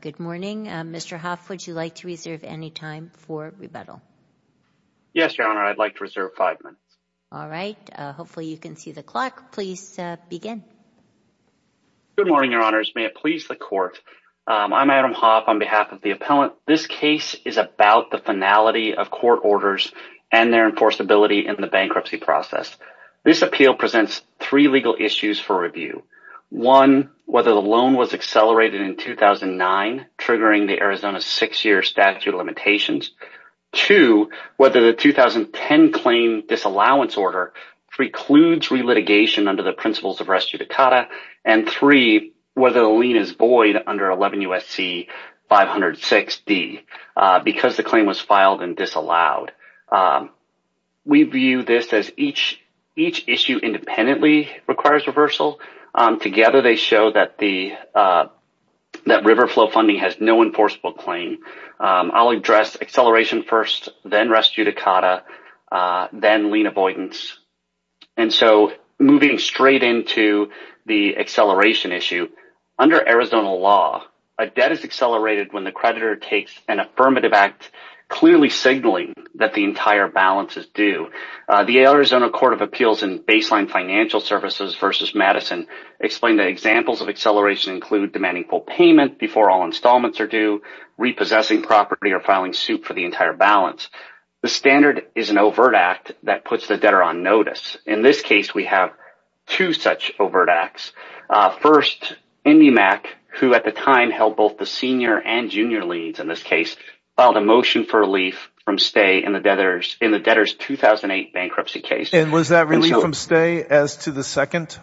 Good morning. Mr. Hoff, would you like to reserve any time for rebuttal? Yes, Your Honor. I'd like to reserve five minutes. All right. Hopefully you can see the clock. Please begin. Good morning, Your Honors. May it please the court. I'm Adam Hoff on behalf of the appellant. This case is about the finality of court orders and their enforceability in the bankruptcy process. This appeal presents three legal issues for review. One, whether the loan was accelerated in 2009, triggering the Arizona six-year statute of limitations. Two, whether the 2010 claim disallowance order precludes relitigation under the principles of res judicata. And three, whether the lien is void under 11 U.S.C. 506D, because the claim was filed and disallowed. We view this as each issue independently requires reversal. Together, they show that Riverflow funding has no enforceable claim. I'll address acceleration first, then res judicata, then lien avoidance. And so moving straight into the acceleration issue, under Arizona law, a debt is accelerated when the creditor takes an affirmative act, clearly signaling that the entire balance is due. The Arizona Court of Appeals in Baseline Financial Services v. Madison explained that examples of acceleration include demanding full payment before all installments are due, repossessing property, or filing suit for the entire balance. The standard is an overt act that puts the debtor on notice. In this case, we have two such overt acts. First, IndyMac, who at the time held both the senior and junior liens in this case, filed a motion for relief from stay in the debtor's 2008 bankruptcy case. And was that relief from stay as to the second?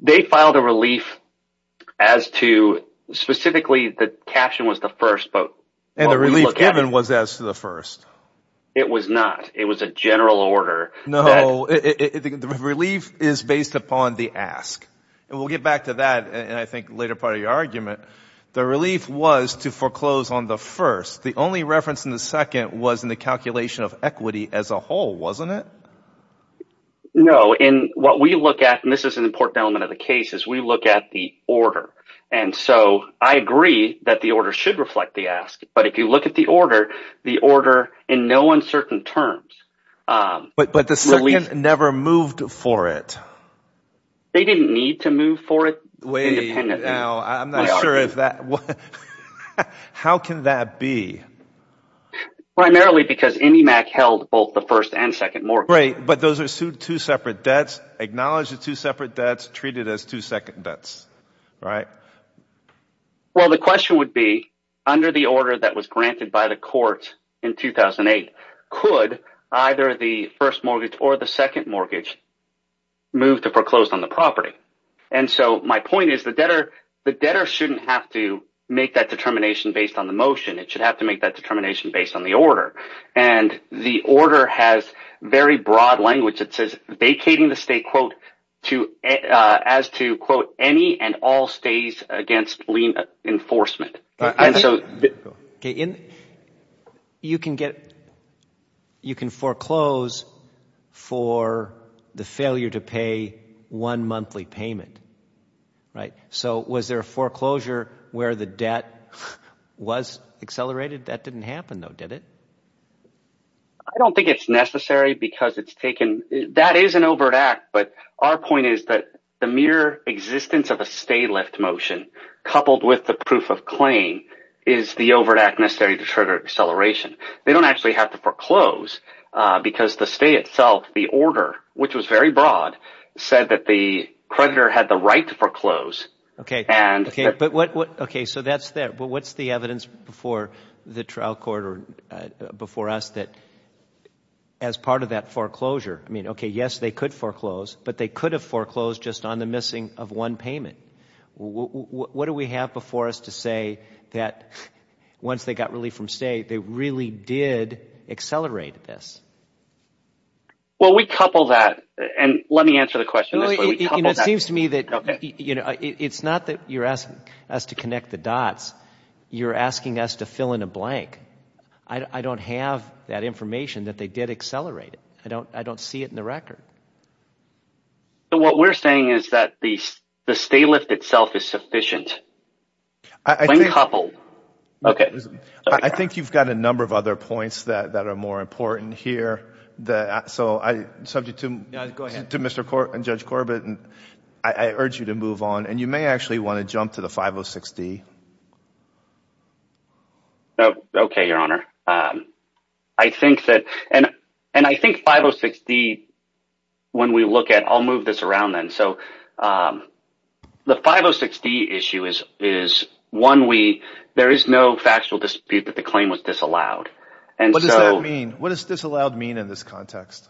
They filed a relief as to specifically, the caption was the first, but... And the relief given was as to the first. It was not. It was a general order. No, the relief is based upon the ask. And we'll get back to that in, I think, a later part of your argument. The relief was to foreclose on the first. The only reference in the second was in the calculation of equity as a whole, wasn't it? No, and what we look at, and this is an important element of the case, is we look at the order. And so I agree that the order should reflect the ask, but if you look at the order, the order in no uncertain terms... But the second never moved for it. They didn't need to move for it. How can that be? Primarily because IndyMac held both the first and second mortgage. Right, but those are two separate debts. Acknowledge the two separate debts. Treat it as two second debts, right? Well, the question would be, under the order that was granted by the court in 2008, could either the first mortgage or the second mortgage move to foreclose on the property? And so my point is, the debtor shouldn't have to make that determination based on the motion. It should have to make that determination based on the order. And the order has very broad language. It says vacating the state, quote, as to, quote, any and all stays against lien enforcement. And so... You can get... You can foreclose for the failure to pay one monthly payment. Right? So was there a foreclosure where the debt was accelerated? That didn't happen though, did it? I don't think it's necessary because it's taken... That is an overt act, but our point is that the mere existence of a stay-left motion coupled with the proof of claim is the overt act necessary to trigger acceleration. They don't actually have to foreclose because the state itself, the order, which was very broad, said that the creditor had the right to foreclose. Okay, but what... Okay, so that's there, but what's the evidence before the trial court or before us that, as part of that foreclosure, I mean, okay, yes, they could foreclose, but they could have foreclosed just on the missing of one payment. What do we have before us to say that, once they got relief from stay, they really did accelerate this? Well, we couple that, and let me answer the question this way. It seems to me that, you know, it's not that you're asking us to connect the dots. You're asking us to fill in a blank. I don't have that information that they did accelerate it. I don't see it in the record. So, what we're saying is that the stay lift itself is sufficient. I think... When coupled. Okay. I think you've got a number of other points that are more important here. So, subject to Mr. Corbett and Judge Corbett, I urge you to move on, and you may actually want to jump to the 506 D. Okay, Your Honor. I think that, and I think 506 D when we look at... I'll move this around then. So, the 506 D issue is, one, there is no factual dispute that the claim was disallowed, and so... What does that mean? What does disallowed mean in this context?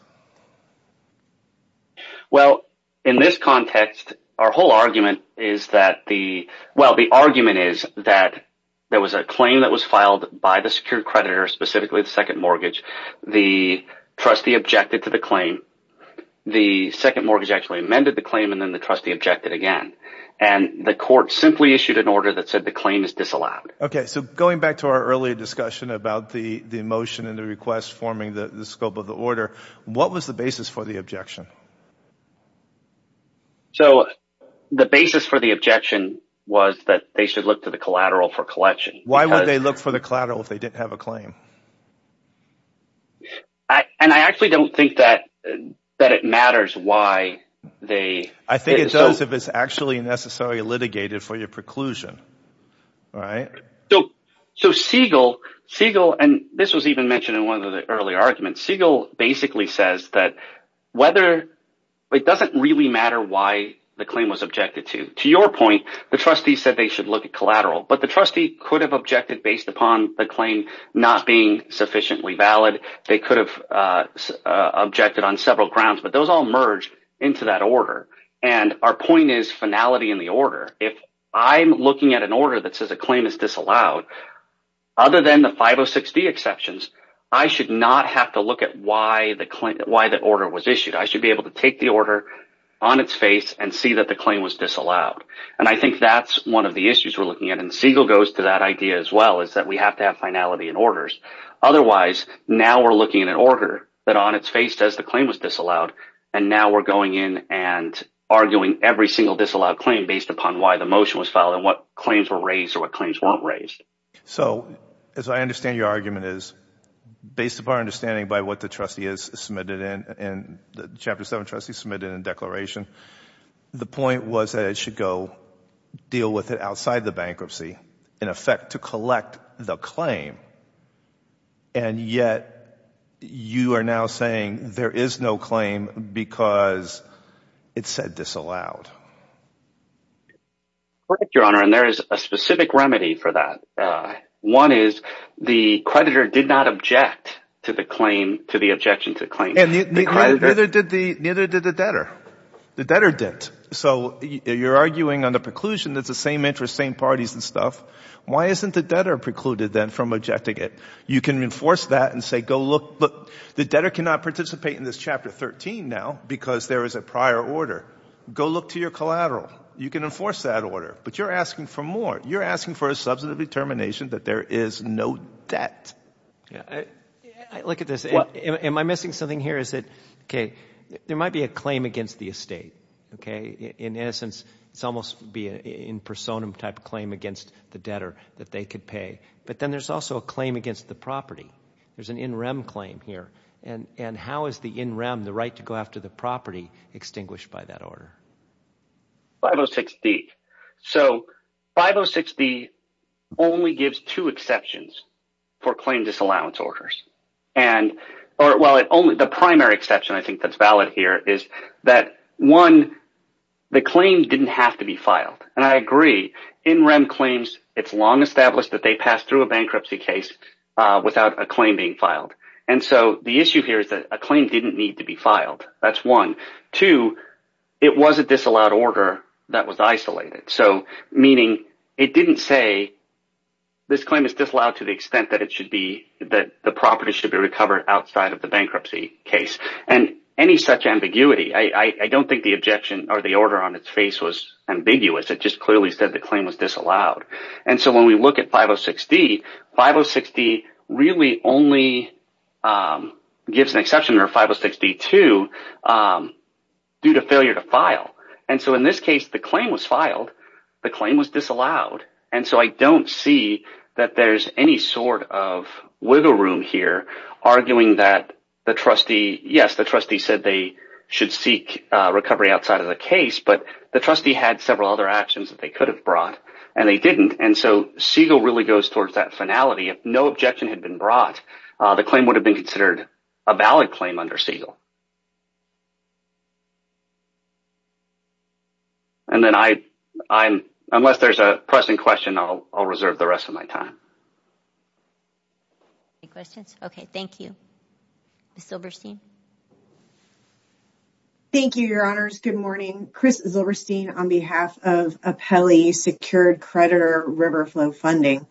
Well, in this context, our whole argument is that the... Well, the argument is that there was a claim that was filed by the secured creditor, specifically the second mortgage. The trustee objected to the claim. The second mortgage actually amended the claim, and then the trustee objected again. And the court simply issued an order that said the claim is disallowed. Okay. So, going back to our earlier discussion about the motion and the request forming the scope of the order, what was the basis for the objection? So, the basis for the objection was that they should look to the collateral for collection. Why would they look for the collateral if they didn't have a claim? And I actually don't think that it matters why they... I think it does if it's actually necessarily litigated for your preclusion. So, Siegel... And this was even mentioned in one of the earlier arguments. Siegel basically says that whether... It doesn't really matter why the claim was objected to. To your point, the trustee said they should look at collateral. But the trustee could have objected based upon the claim not being sufficiently valid. They could have objected on several grounds, but those all merged into that order. And our point is finality in the order. If I'm looking at an order that says a claim is disallowed, other than the 506d exceptions, I should not have to look at why the order was issued. I should be able to take the order on its face and see that the claim was disallowed. And I think that's one of the issues we're looking at. And Siegel goes to that idea as well, is that we have to have finality in orders. Otherwise, now we're looking at an order that on its face says the claim was disallowed, and now we're going in and arguing every single disallowed claim based upon why the motion was filed and what claims were raised or what claims weren't raised. So, as I understand your argument is, based upon understanding by what the trustee is submitted in and the Chapter 7 trustee submitted in declaration, the point was that it should go deal with it outside the bankruptcy, in effect, to collect the claim. And yet, you are now saying there is no claim because it said disallowed. Correct, Your Honor, and there is a specific remedy for that. One is the creditor did not object to the objection to the claim. Neither did the debtor. The debtor didn't. So you're arguing on the preclusion that it's the same interest, same parties and stuff. Why isn't the debtor precluded then from objecting it? You can enforce that and say, go look, but the debtor cannot participate in this Chapter 13 now because there is a prior order. Go look to your collateral. You can enforce that order, but you're asking for more. You're asking for a substantive determination that there is no debt. Look at this. Am I missing something here? Is it okay? There might be a claim against the estate, okay? In essence, it's almost be an in personam type claim against the debtor that they could pay. But then there's also a claim against the property. There's an in rem claim here. And how is the in rem, the right to go after the property, extinguished by that order? 506D. So 506D only gives two exceptions for claim disallowance orders. And, well, the primary exception I think that's valid here is that, one, the claim didn't have to be filed. And I agree. In rem claims, it's long established that they pass through a bankruptcy case without a claim being filed. And so the issue here is that a claim didn't need to be filed. That's one. Two, it was a disallowed order that was isolated. So meaning it didn't say this claim is disallowed to the extent that it should be, that the property should be recovered outside of the bankruptcy case. And any such ambiguity, I don't think the objection or the order on its face was ambiguous. It just clearly said the claim was disallowed. And so when we look at 506D, 506D really only gives an exception or 506D2 due to failure to file. And so in this case, the claim was filed. The claim was disallowed. And so I don't see that there's any sort of wiggle room here arguing that the trustee, yes, the trustee said they should seek recovery outside of the case. But the trustee had several other actions that they could have brought. And they didn't. And so Siegel really goes towards that finality. If no objection had been brought, the claim would have been considered a valid claim under Siegel. And then I, unless there's a pressing question, I'll reserve the rest of my time. Any questions? Okay. Thank you. Ms. Silberstein. Thank you, Your Honors. Good morning. Chris Silberstein on behalf of Apelli Secured Creditor Riverflow Funding.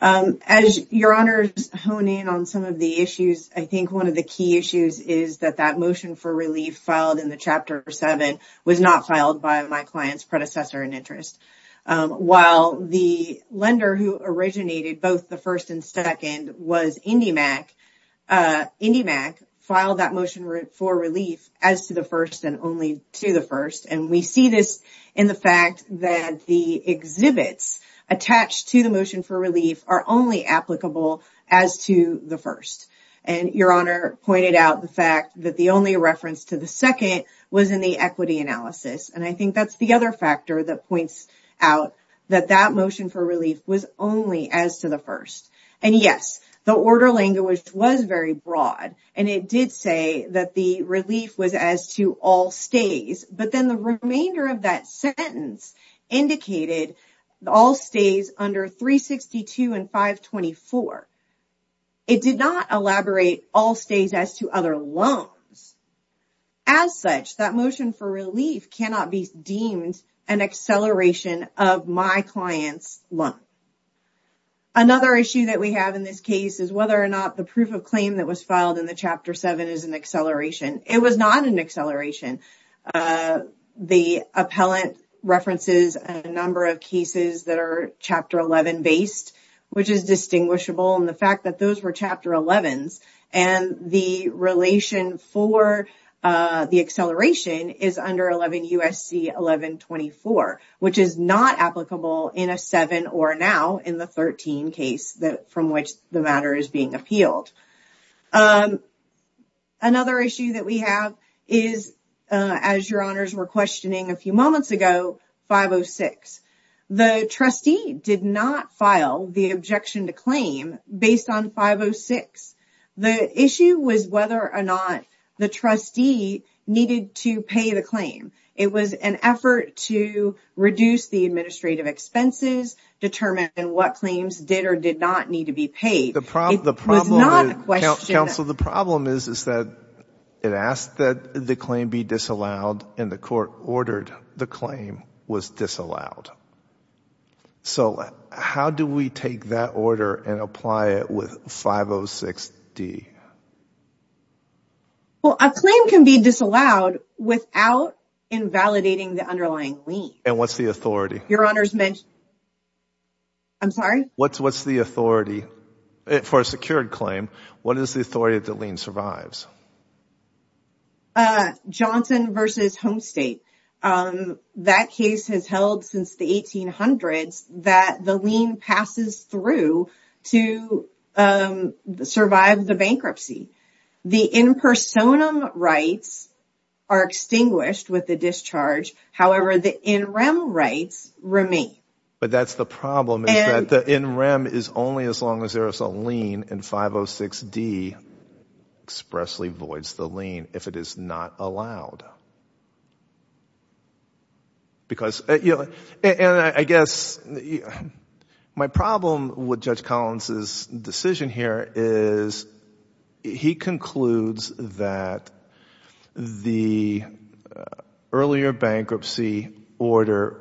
As Your Honors hone in on some of the issues, I think one of the key issues is that that motion for relief filed in the Chapter 7 was not filed by my client's predecessor in interest. While the lender who originated both the first and second was IndyMac, IndyMac filed that motion for relief as to the first and only to the first. And we see this in the fact that the exhibits attached to the motion for relief are only applicable as to the first. And Your Honor pointed out the fact that the only reference to the second was in the equity analysis. And I think that's the other factor that points out that that motion for relief was only as to the first. And yes, the order language was very broad. And it did say that the relief was as to all stays. But then the remainder of that sentence indicated all stays under 362 and 524. It did not elaborate all stays as to other loans. As such, that motion for relief cannot be deemed an acceleration of my client's loan. Another issue that we have in this case is whether or not the proof of claim that was filed in the Chapter 7 is an acceleration. It was not an acceleration. The appellant references a number of cases that are Chapter 11 based, which is distinguishable. And the fact that those were Chapter 11s and the relation for the acceleration is under 11 U.S.C. 1124, which is not applicable in a 7 or now in the 13 case from which the matter is being appealed. Another issue that we have is, as Your Honors were questioning a few moments ago, 506. The trustee did not file the objection to claim based on 506. The issue was whether or not the trustee needed to pay the claim. It was an effort to reduce the administrative expenses, determine what claims did or did not need to be paid. It was not a question. The problem, counsel, the problem is that it asked that the claim be disallowed, and the court ordered the claim was disallowed. So, how do we take that order and apply it with 506D? Well, a claim can be disallowed without invalidating the underlying lien. And what's the authority? Your Honors, I'm sorry? What's the authority for a secured claim? What is the authority that the lien survives? Johnson v. Homestate. That case has held since the 1800s that the lien passes through to survive the bankruptcy. The in personam rights are extinguished with the discharge. However, the in rem rights remain. But that's the problem is that the in rem is only as long as there is a lien in 506D expressly voids the lien if it is not allowed. Because, you know, and I guess my problem with Judge Collins's decision here is he concludes that the earlier bankruptcy order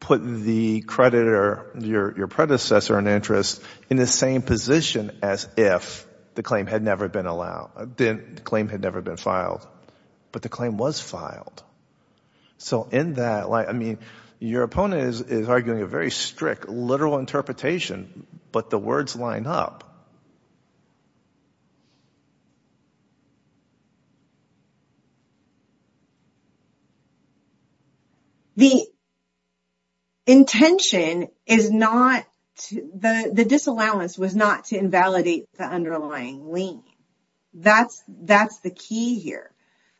put the creditor, your predecessor in interest, in the same position as if the claim had never been allowed, the claim had never been filed. But the claim was filed. So in that light, I mean, your opponent is arguing a very strict literal interpretation, but the words line up. The intention is not to the disallowance was not to invalidate the underlying lien. That's that's the key here.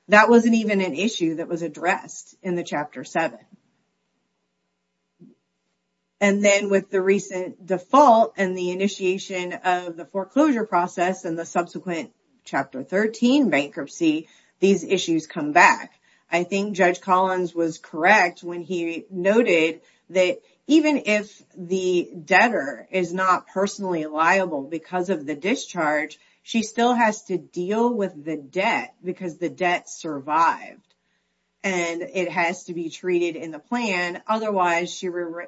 That wasn't even an issue that was addressed in the Chapter 7. And then with the recent default and the initiation of the new law, the foreclosure process and the subsequent Chapter 13 bankruptcy, these issues come back. I think Judge Collins was correct when he noted that even if the debtor is not personally liable because of the discharge, she still has to deal with the debt because the debt survived. And it has to be treated in the plan. Otherwise,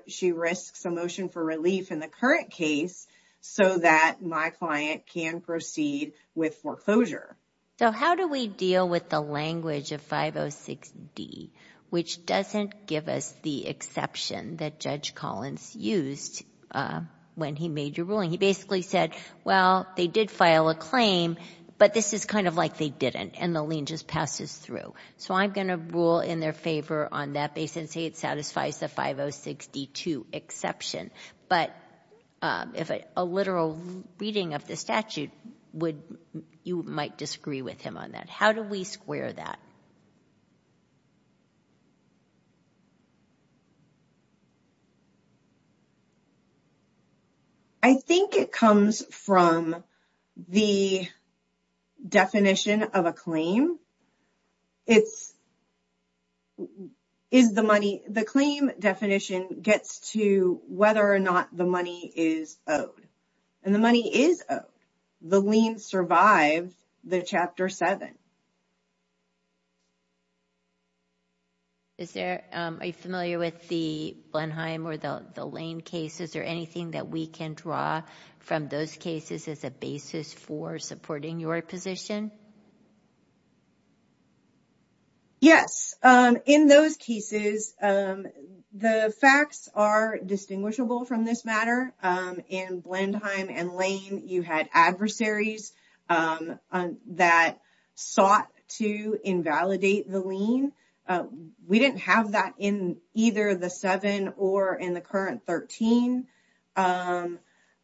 she risks a motion for relief in the current case so that my client can proceed with foreclosure. So how do we deal with the language of 506D, which doesn't give us the exception that Judge Collins used when he made your ruling? He basically said, well, they did file a claim, but this is kind of like they didn't. And the lien just passes through. So I'm going to rule in their favor on that basis and say it satisfies the 506D-2 exception. But if a literal reading of the statute would, you might disagree with him on that. How do we square that? I think it comes from the definition of a claim. It's, is the money, the claim definition gets to whether or not the money is owed. And the money is owed. The lien survived the Chapter 7. Is there, are you familiar with the Blenheim or the Lane cases, or anything that we can draw from those cases as a basis for supporting your position? Yes, in those cases, the facts are distinguishable from this matter. In Blenheim and Lane, you had adversaries that sought to invalidate the lien. We didn't have that in either the 7 or in the current 13.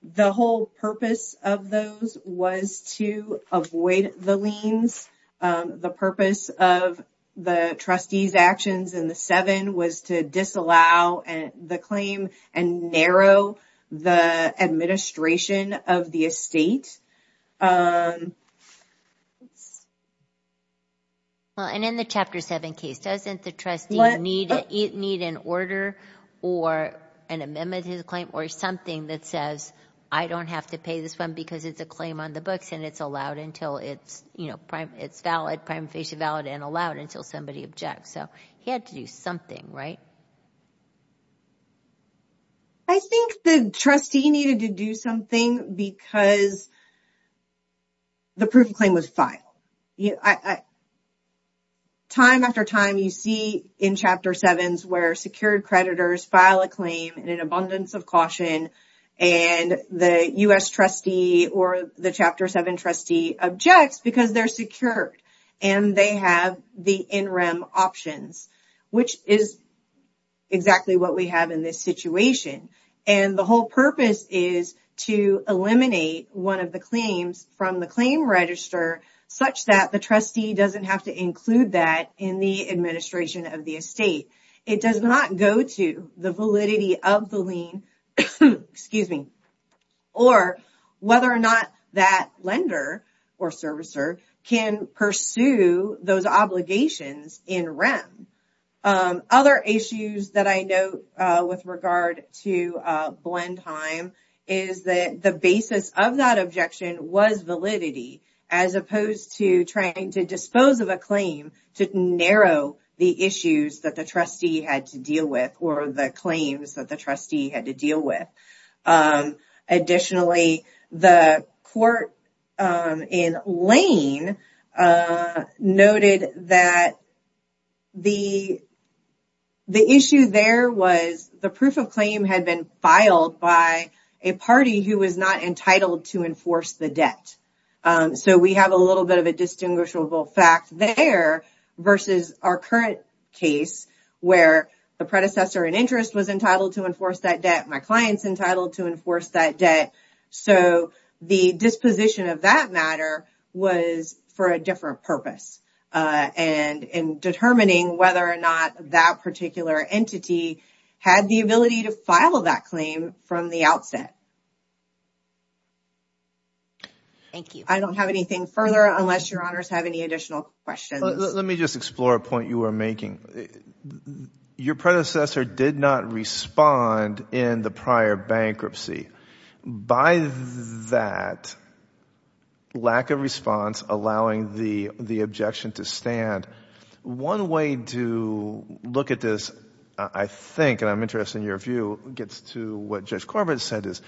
The whole purpose of those was to avoid the liens. The purpose of the trustee's actions in the 7 was to disallow the claim and narrow the administration of the estate. Well, and in the Chapter 7 case, doesn't the trustee need an order or an amendment to the claim or something that says, I don't have to pay this one because it's a claim on the books and it's allowed until it's, you know, it's valid, prima facie valid and allowed until somebody objects. So he had to do something, right? I think the trustee needed to do something because the proof of claim was filed. Time after time, you see in Chapter 7s where secured creditors file a claim in an abundance of caution and the U.S. trustee or the Chapter 7 trustee objects because they're secured and they have the NREM options, which is exactly what we have in this situation. And the whole purpose is to eliminate one of the claims from the claim register such that the trustee doesn't have to include that in the administration of the estate. It does not go to the validity of the lien or whether or not that lender or servicer can pursue those obligations in NREM. Other issues that I know with regard to blend time is that the basis of that objection was validity as opposed to trying to dispose of a claim to narrow the issues that the trustee had to deal with or the claims that the trustee had to deal with. Additionally, the court in Lane noted that the issue there was the proof of claim had been filed by a party who was not entitled to enforce the debt. So we have a little bit of a distinguishable fact there versus our current case where the predecessor in interest was entitled to enforce that debt. My client's entitled to enforce that debt. So the disposition of that matter was for a different purpose and in determining whether or not that particular entity had the ability to file that claim from the outset. Thank you. I don't have anything further unless your honors have any additional questions. Let me just explore a point you were making. Your predecessor did not respond in the prior bankruptcy. By that lack of response allowing the objection to stand, one way to look at this, I think, and I'm interested in your view, gets to what Judge Corbett said is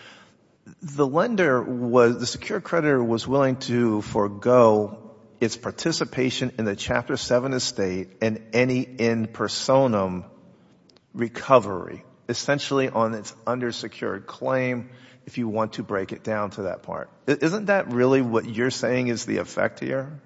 the lender was, the secure creditor was willing to forego its participation in the Chapter 7 estate and any in personam recovery, essentially on its undersecured claim, if you want to break it down to that part. Isn't that really what you're saying is the effect here?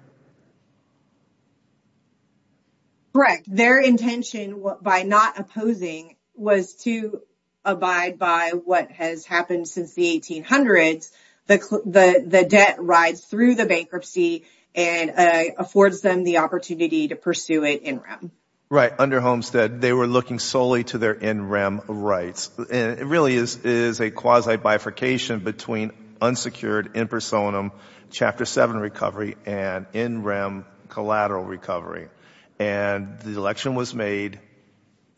Correct. Their intention by not opposing was to abide by what has happened since the 1800s. The debt rides through the bankruptcy and affords them the opportunity to pursue it in rem. Right. Under Homestead, they were looking solely to their in rem rights. And it really is a quasi bifurcation between unsecured in personam, Chapter 7 recovery and in rem collateral recovery. And the election was made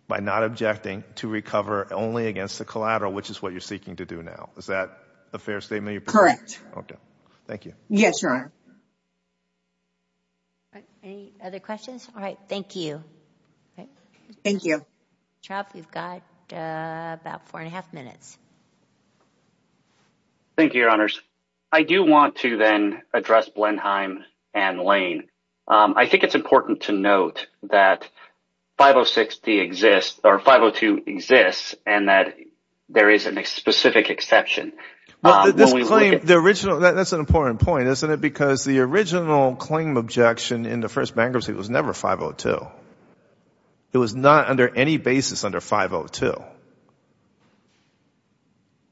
by not objecting to recover only against the collateral, which is what you're seeking to do now. Is that a fair statement? Correct. Okay. Thank you. Yes, Your Honor. Any other questions? All right. Thank you. Thank you. Trout, we've got about four and a half minutes. Thank you, Your Honors. I do want to then address Blenheim and Lane. I think it's important to note that 5060 exists, or 502 exists, and that there is a specific exception. That's an important point, isn't it? Because the original claim objection in the first bankruptcy was never 502. It was not under any basis under 502.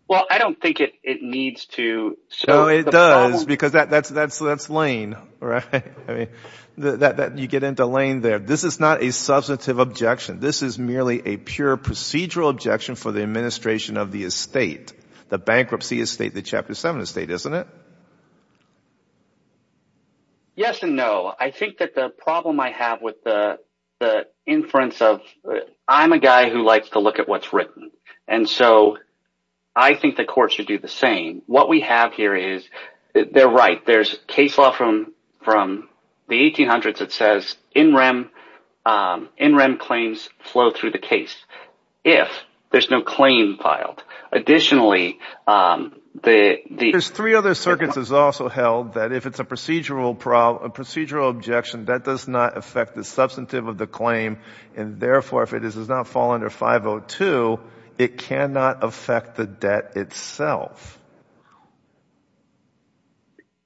Well, I don't think it needs to. So it does, because that's Lane, right? I mean, you get into Lane there. This is not a substantive objection. This is merely a pure procedural objection for the administration of the estate, the bankruptcy estate, the Chapter 7 estate, isn't it? Yes and no. I think that the problem I have with the inference of, I'm a guy who likes to look at what's written, and so I think the court should do the same. What we have here is, they're right. There's case law from the 1800s that says in-rem claims flow through the case if there's no claim filed. Additionally, the— There's three other circuits that's also held that if it's a procedural objection, that does not affect the substantive of the claim, and therefore, if it does not fall under 502, it cannot affect the debt itself.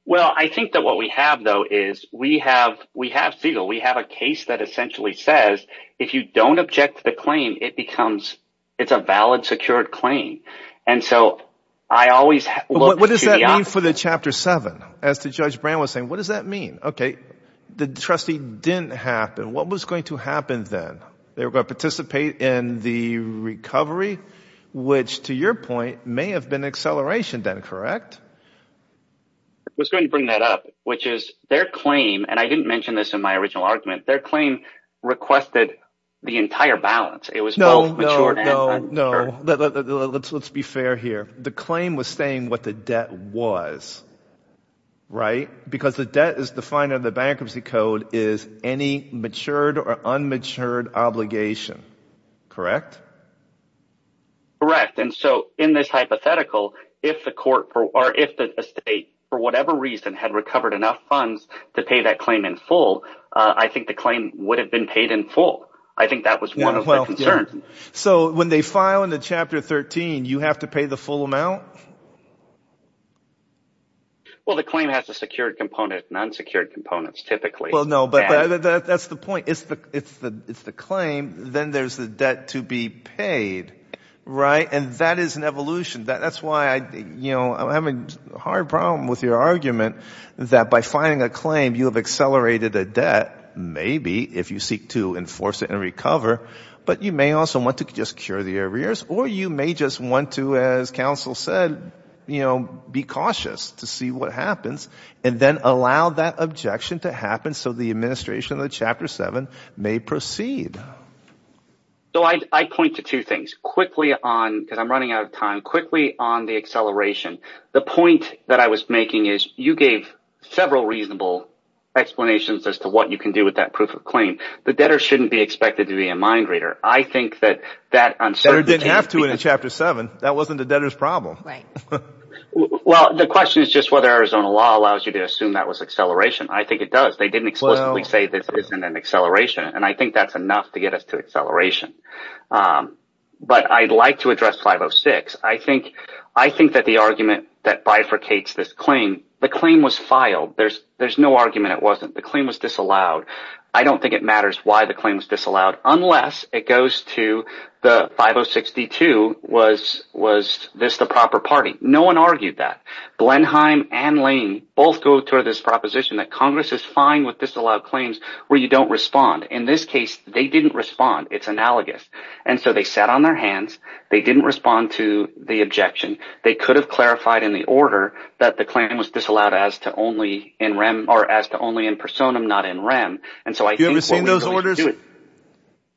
Well, I think that what we have, though, is we have Segal. We have a case that essentially says, if you don't object to the claim, it becomes—it's a valid, secured claim. And so I always look to the opposite. What does that mean for the Chapter 7? As to Judge Brand was saying, what does that mean? Okay, the trustee didn't happen. What was going to happen then? They were going to participate in the recovery, which to your point, may have been accelerated. Correct. I was going to bring that up, which is their claim— and I didn't mention this in my original argument— their claim requested the entire balance. It was both mature and unmatured. No, let's be fair here. The claim was saying what the debt was, right? Because the debt is defined in the Bankruptcy Code as any matured or unmatured obligation, correct? Correct. In this hypothetical, if the estate, for whatever reason, had recovered enough funds to pay that claim in full, I think the claim would have been paid in full. I think that was one of the concerns. So when they file in the Chapter 13, you have to pay the full amount? Well, the claim has a secured component and unsecured components, typically. Well, no, but that's the point. It's the claim, then there's the debt to be paid, right? That is an evolution. That's why I'm having a hard problem with your argument that by filing a claim, you have accelerated a debt, maybe, if you seek to enforce it and recover, but you may also want to just cure the arrears or you may just want to, as counsel said, be cautious to see what happens and then allow that objection to happen so the administration of the Chapter 7 may proceed. So I point to two things. Quickly on, because I'm running out of time, quickly on the acceleration. The point that I was making is, you gave several reasonable explanations as to what you can do with that proof of claim. The debtor shouldn't be expected to be a mind reader. I think that uncertainty... The debtor didn't have to in Chapter 7. That wasn't the debtor's problem. Well, the question is just whether Arizona law allows you to assume that was acceleration. I think it does. They didn't explicitly say this isn't an acceleration and I think that's enough to get us to acceleration. But I'd like to address 506. I think that the argument that bifurcates this claim, the claim was filed. There's no argument it wasn't. The claim was disallowed. I don't think it matters why the claim was disallowed unless it goes to the 5062, was this the proper party? No one argued that. Blenheim and Lane both go toward this proposition that Congress is fine with disallowed claims where you don't respond. In this case, they didn't respond. It's analogous. And so they sat on their hands. They didn't respond to the objection. They could have clarified in the order that the claim was disallowed as to only in rem or as to only in personam, not in rem. And so I think... Have you ever seen those orders?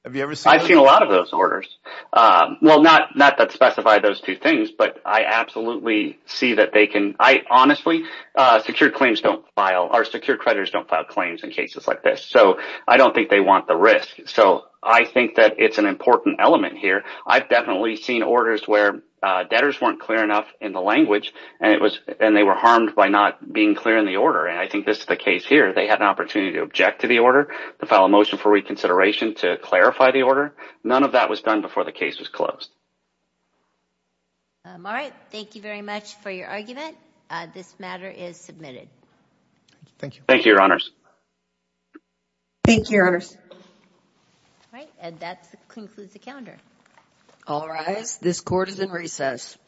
Have you ever seen them? I've seen a lot of those orders. Well, not that specify those two things, but I absolutely see that they can... I honestly... Secured claims don't file... Our secured creditors don't file claims in cases like this. So I don't think they want the risk. So I think that it's an important element here. I've definitely seen orders where debtors weren't clear enough in the language and they were harmed by not being clear in the order. And I think this is the case here. They had an opportunity to object to the order, to file a motion for reconsideration, to clarify the order. None of that was done before the case was closed. All right. Thank you very much for your argument. This matter is submitted. Thank you. Thank you, Your Honors. Thank you, Your Honors. All right. And that concludes the calendar. All rise. This court is in recess.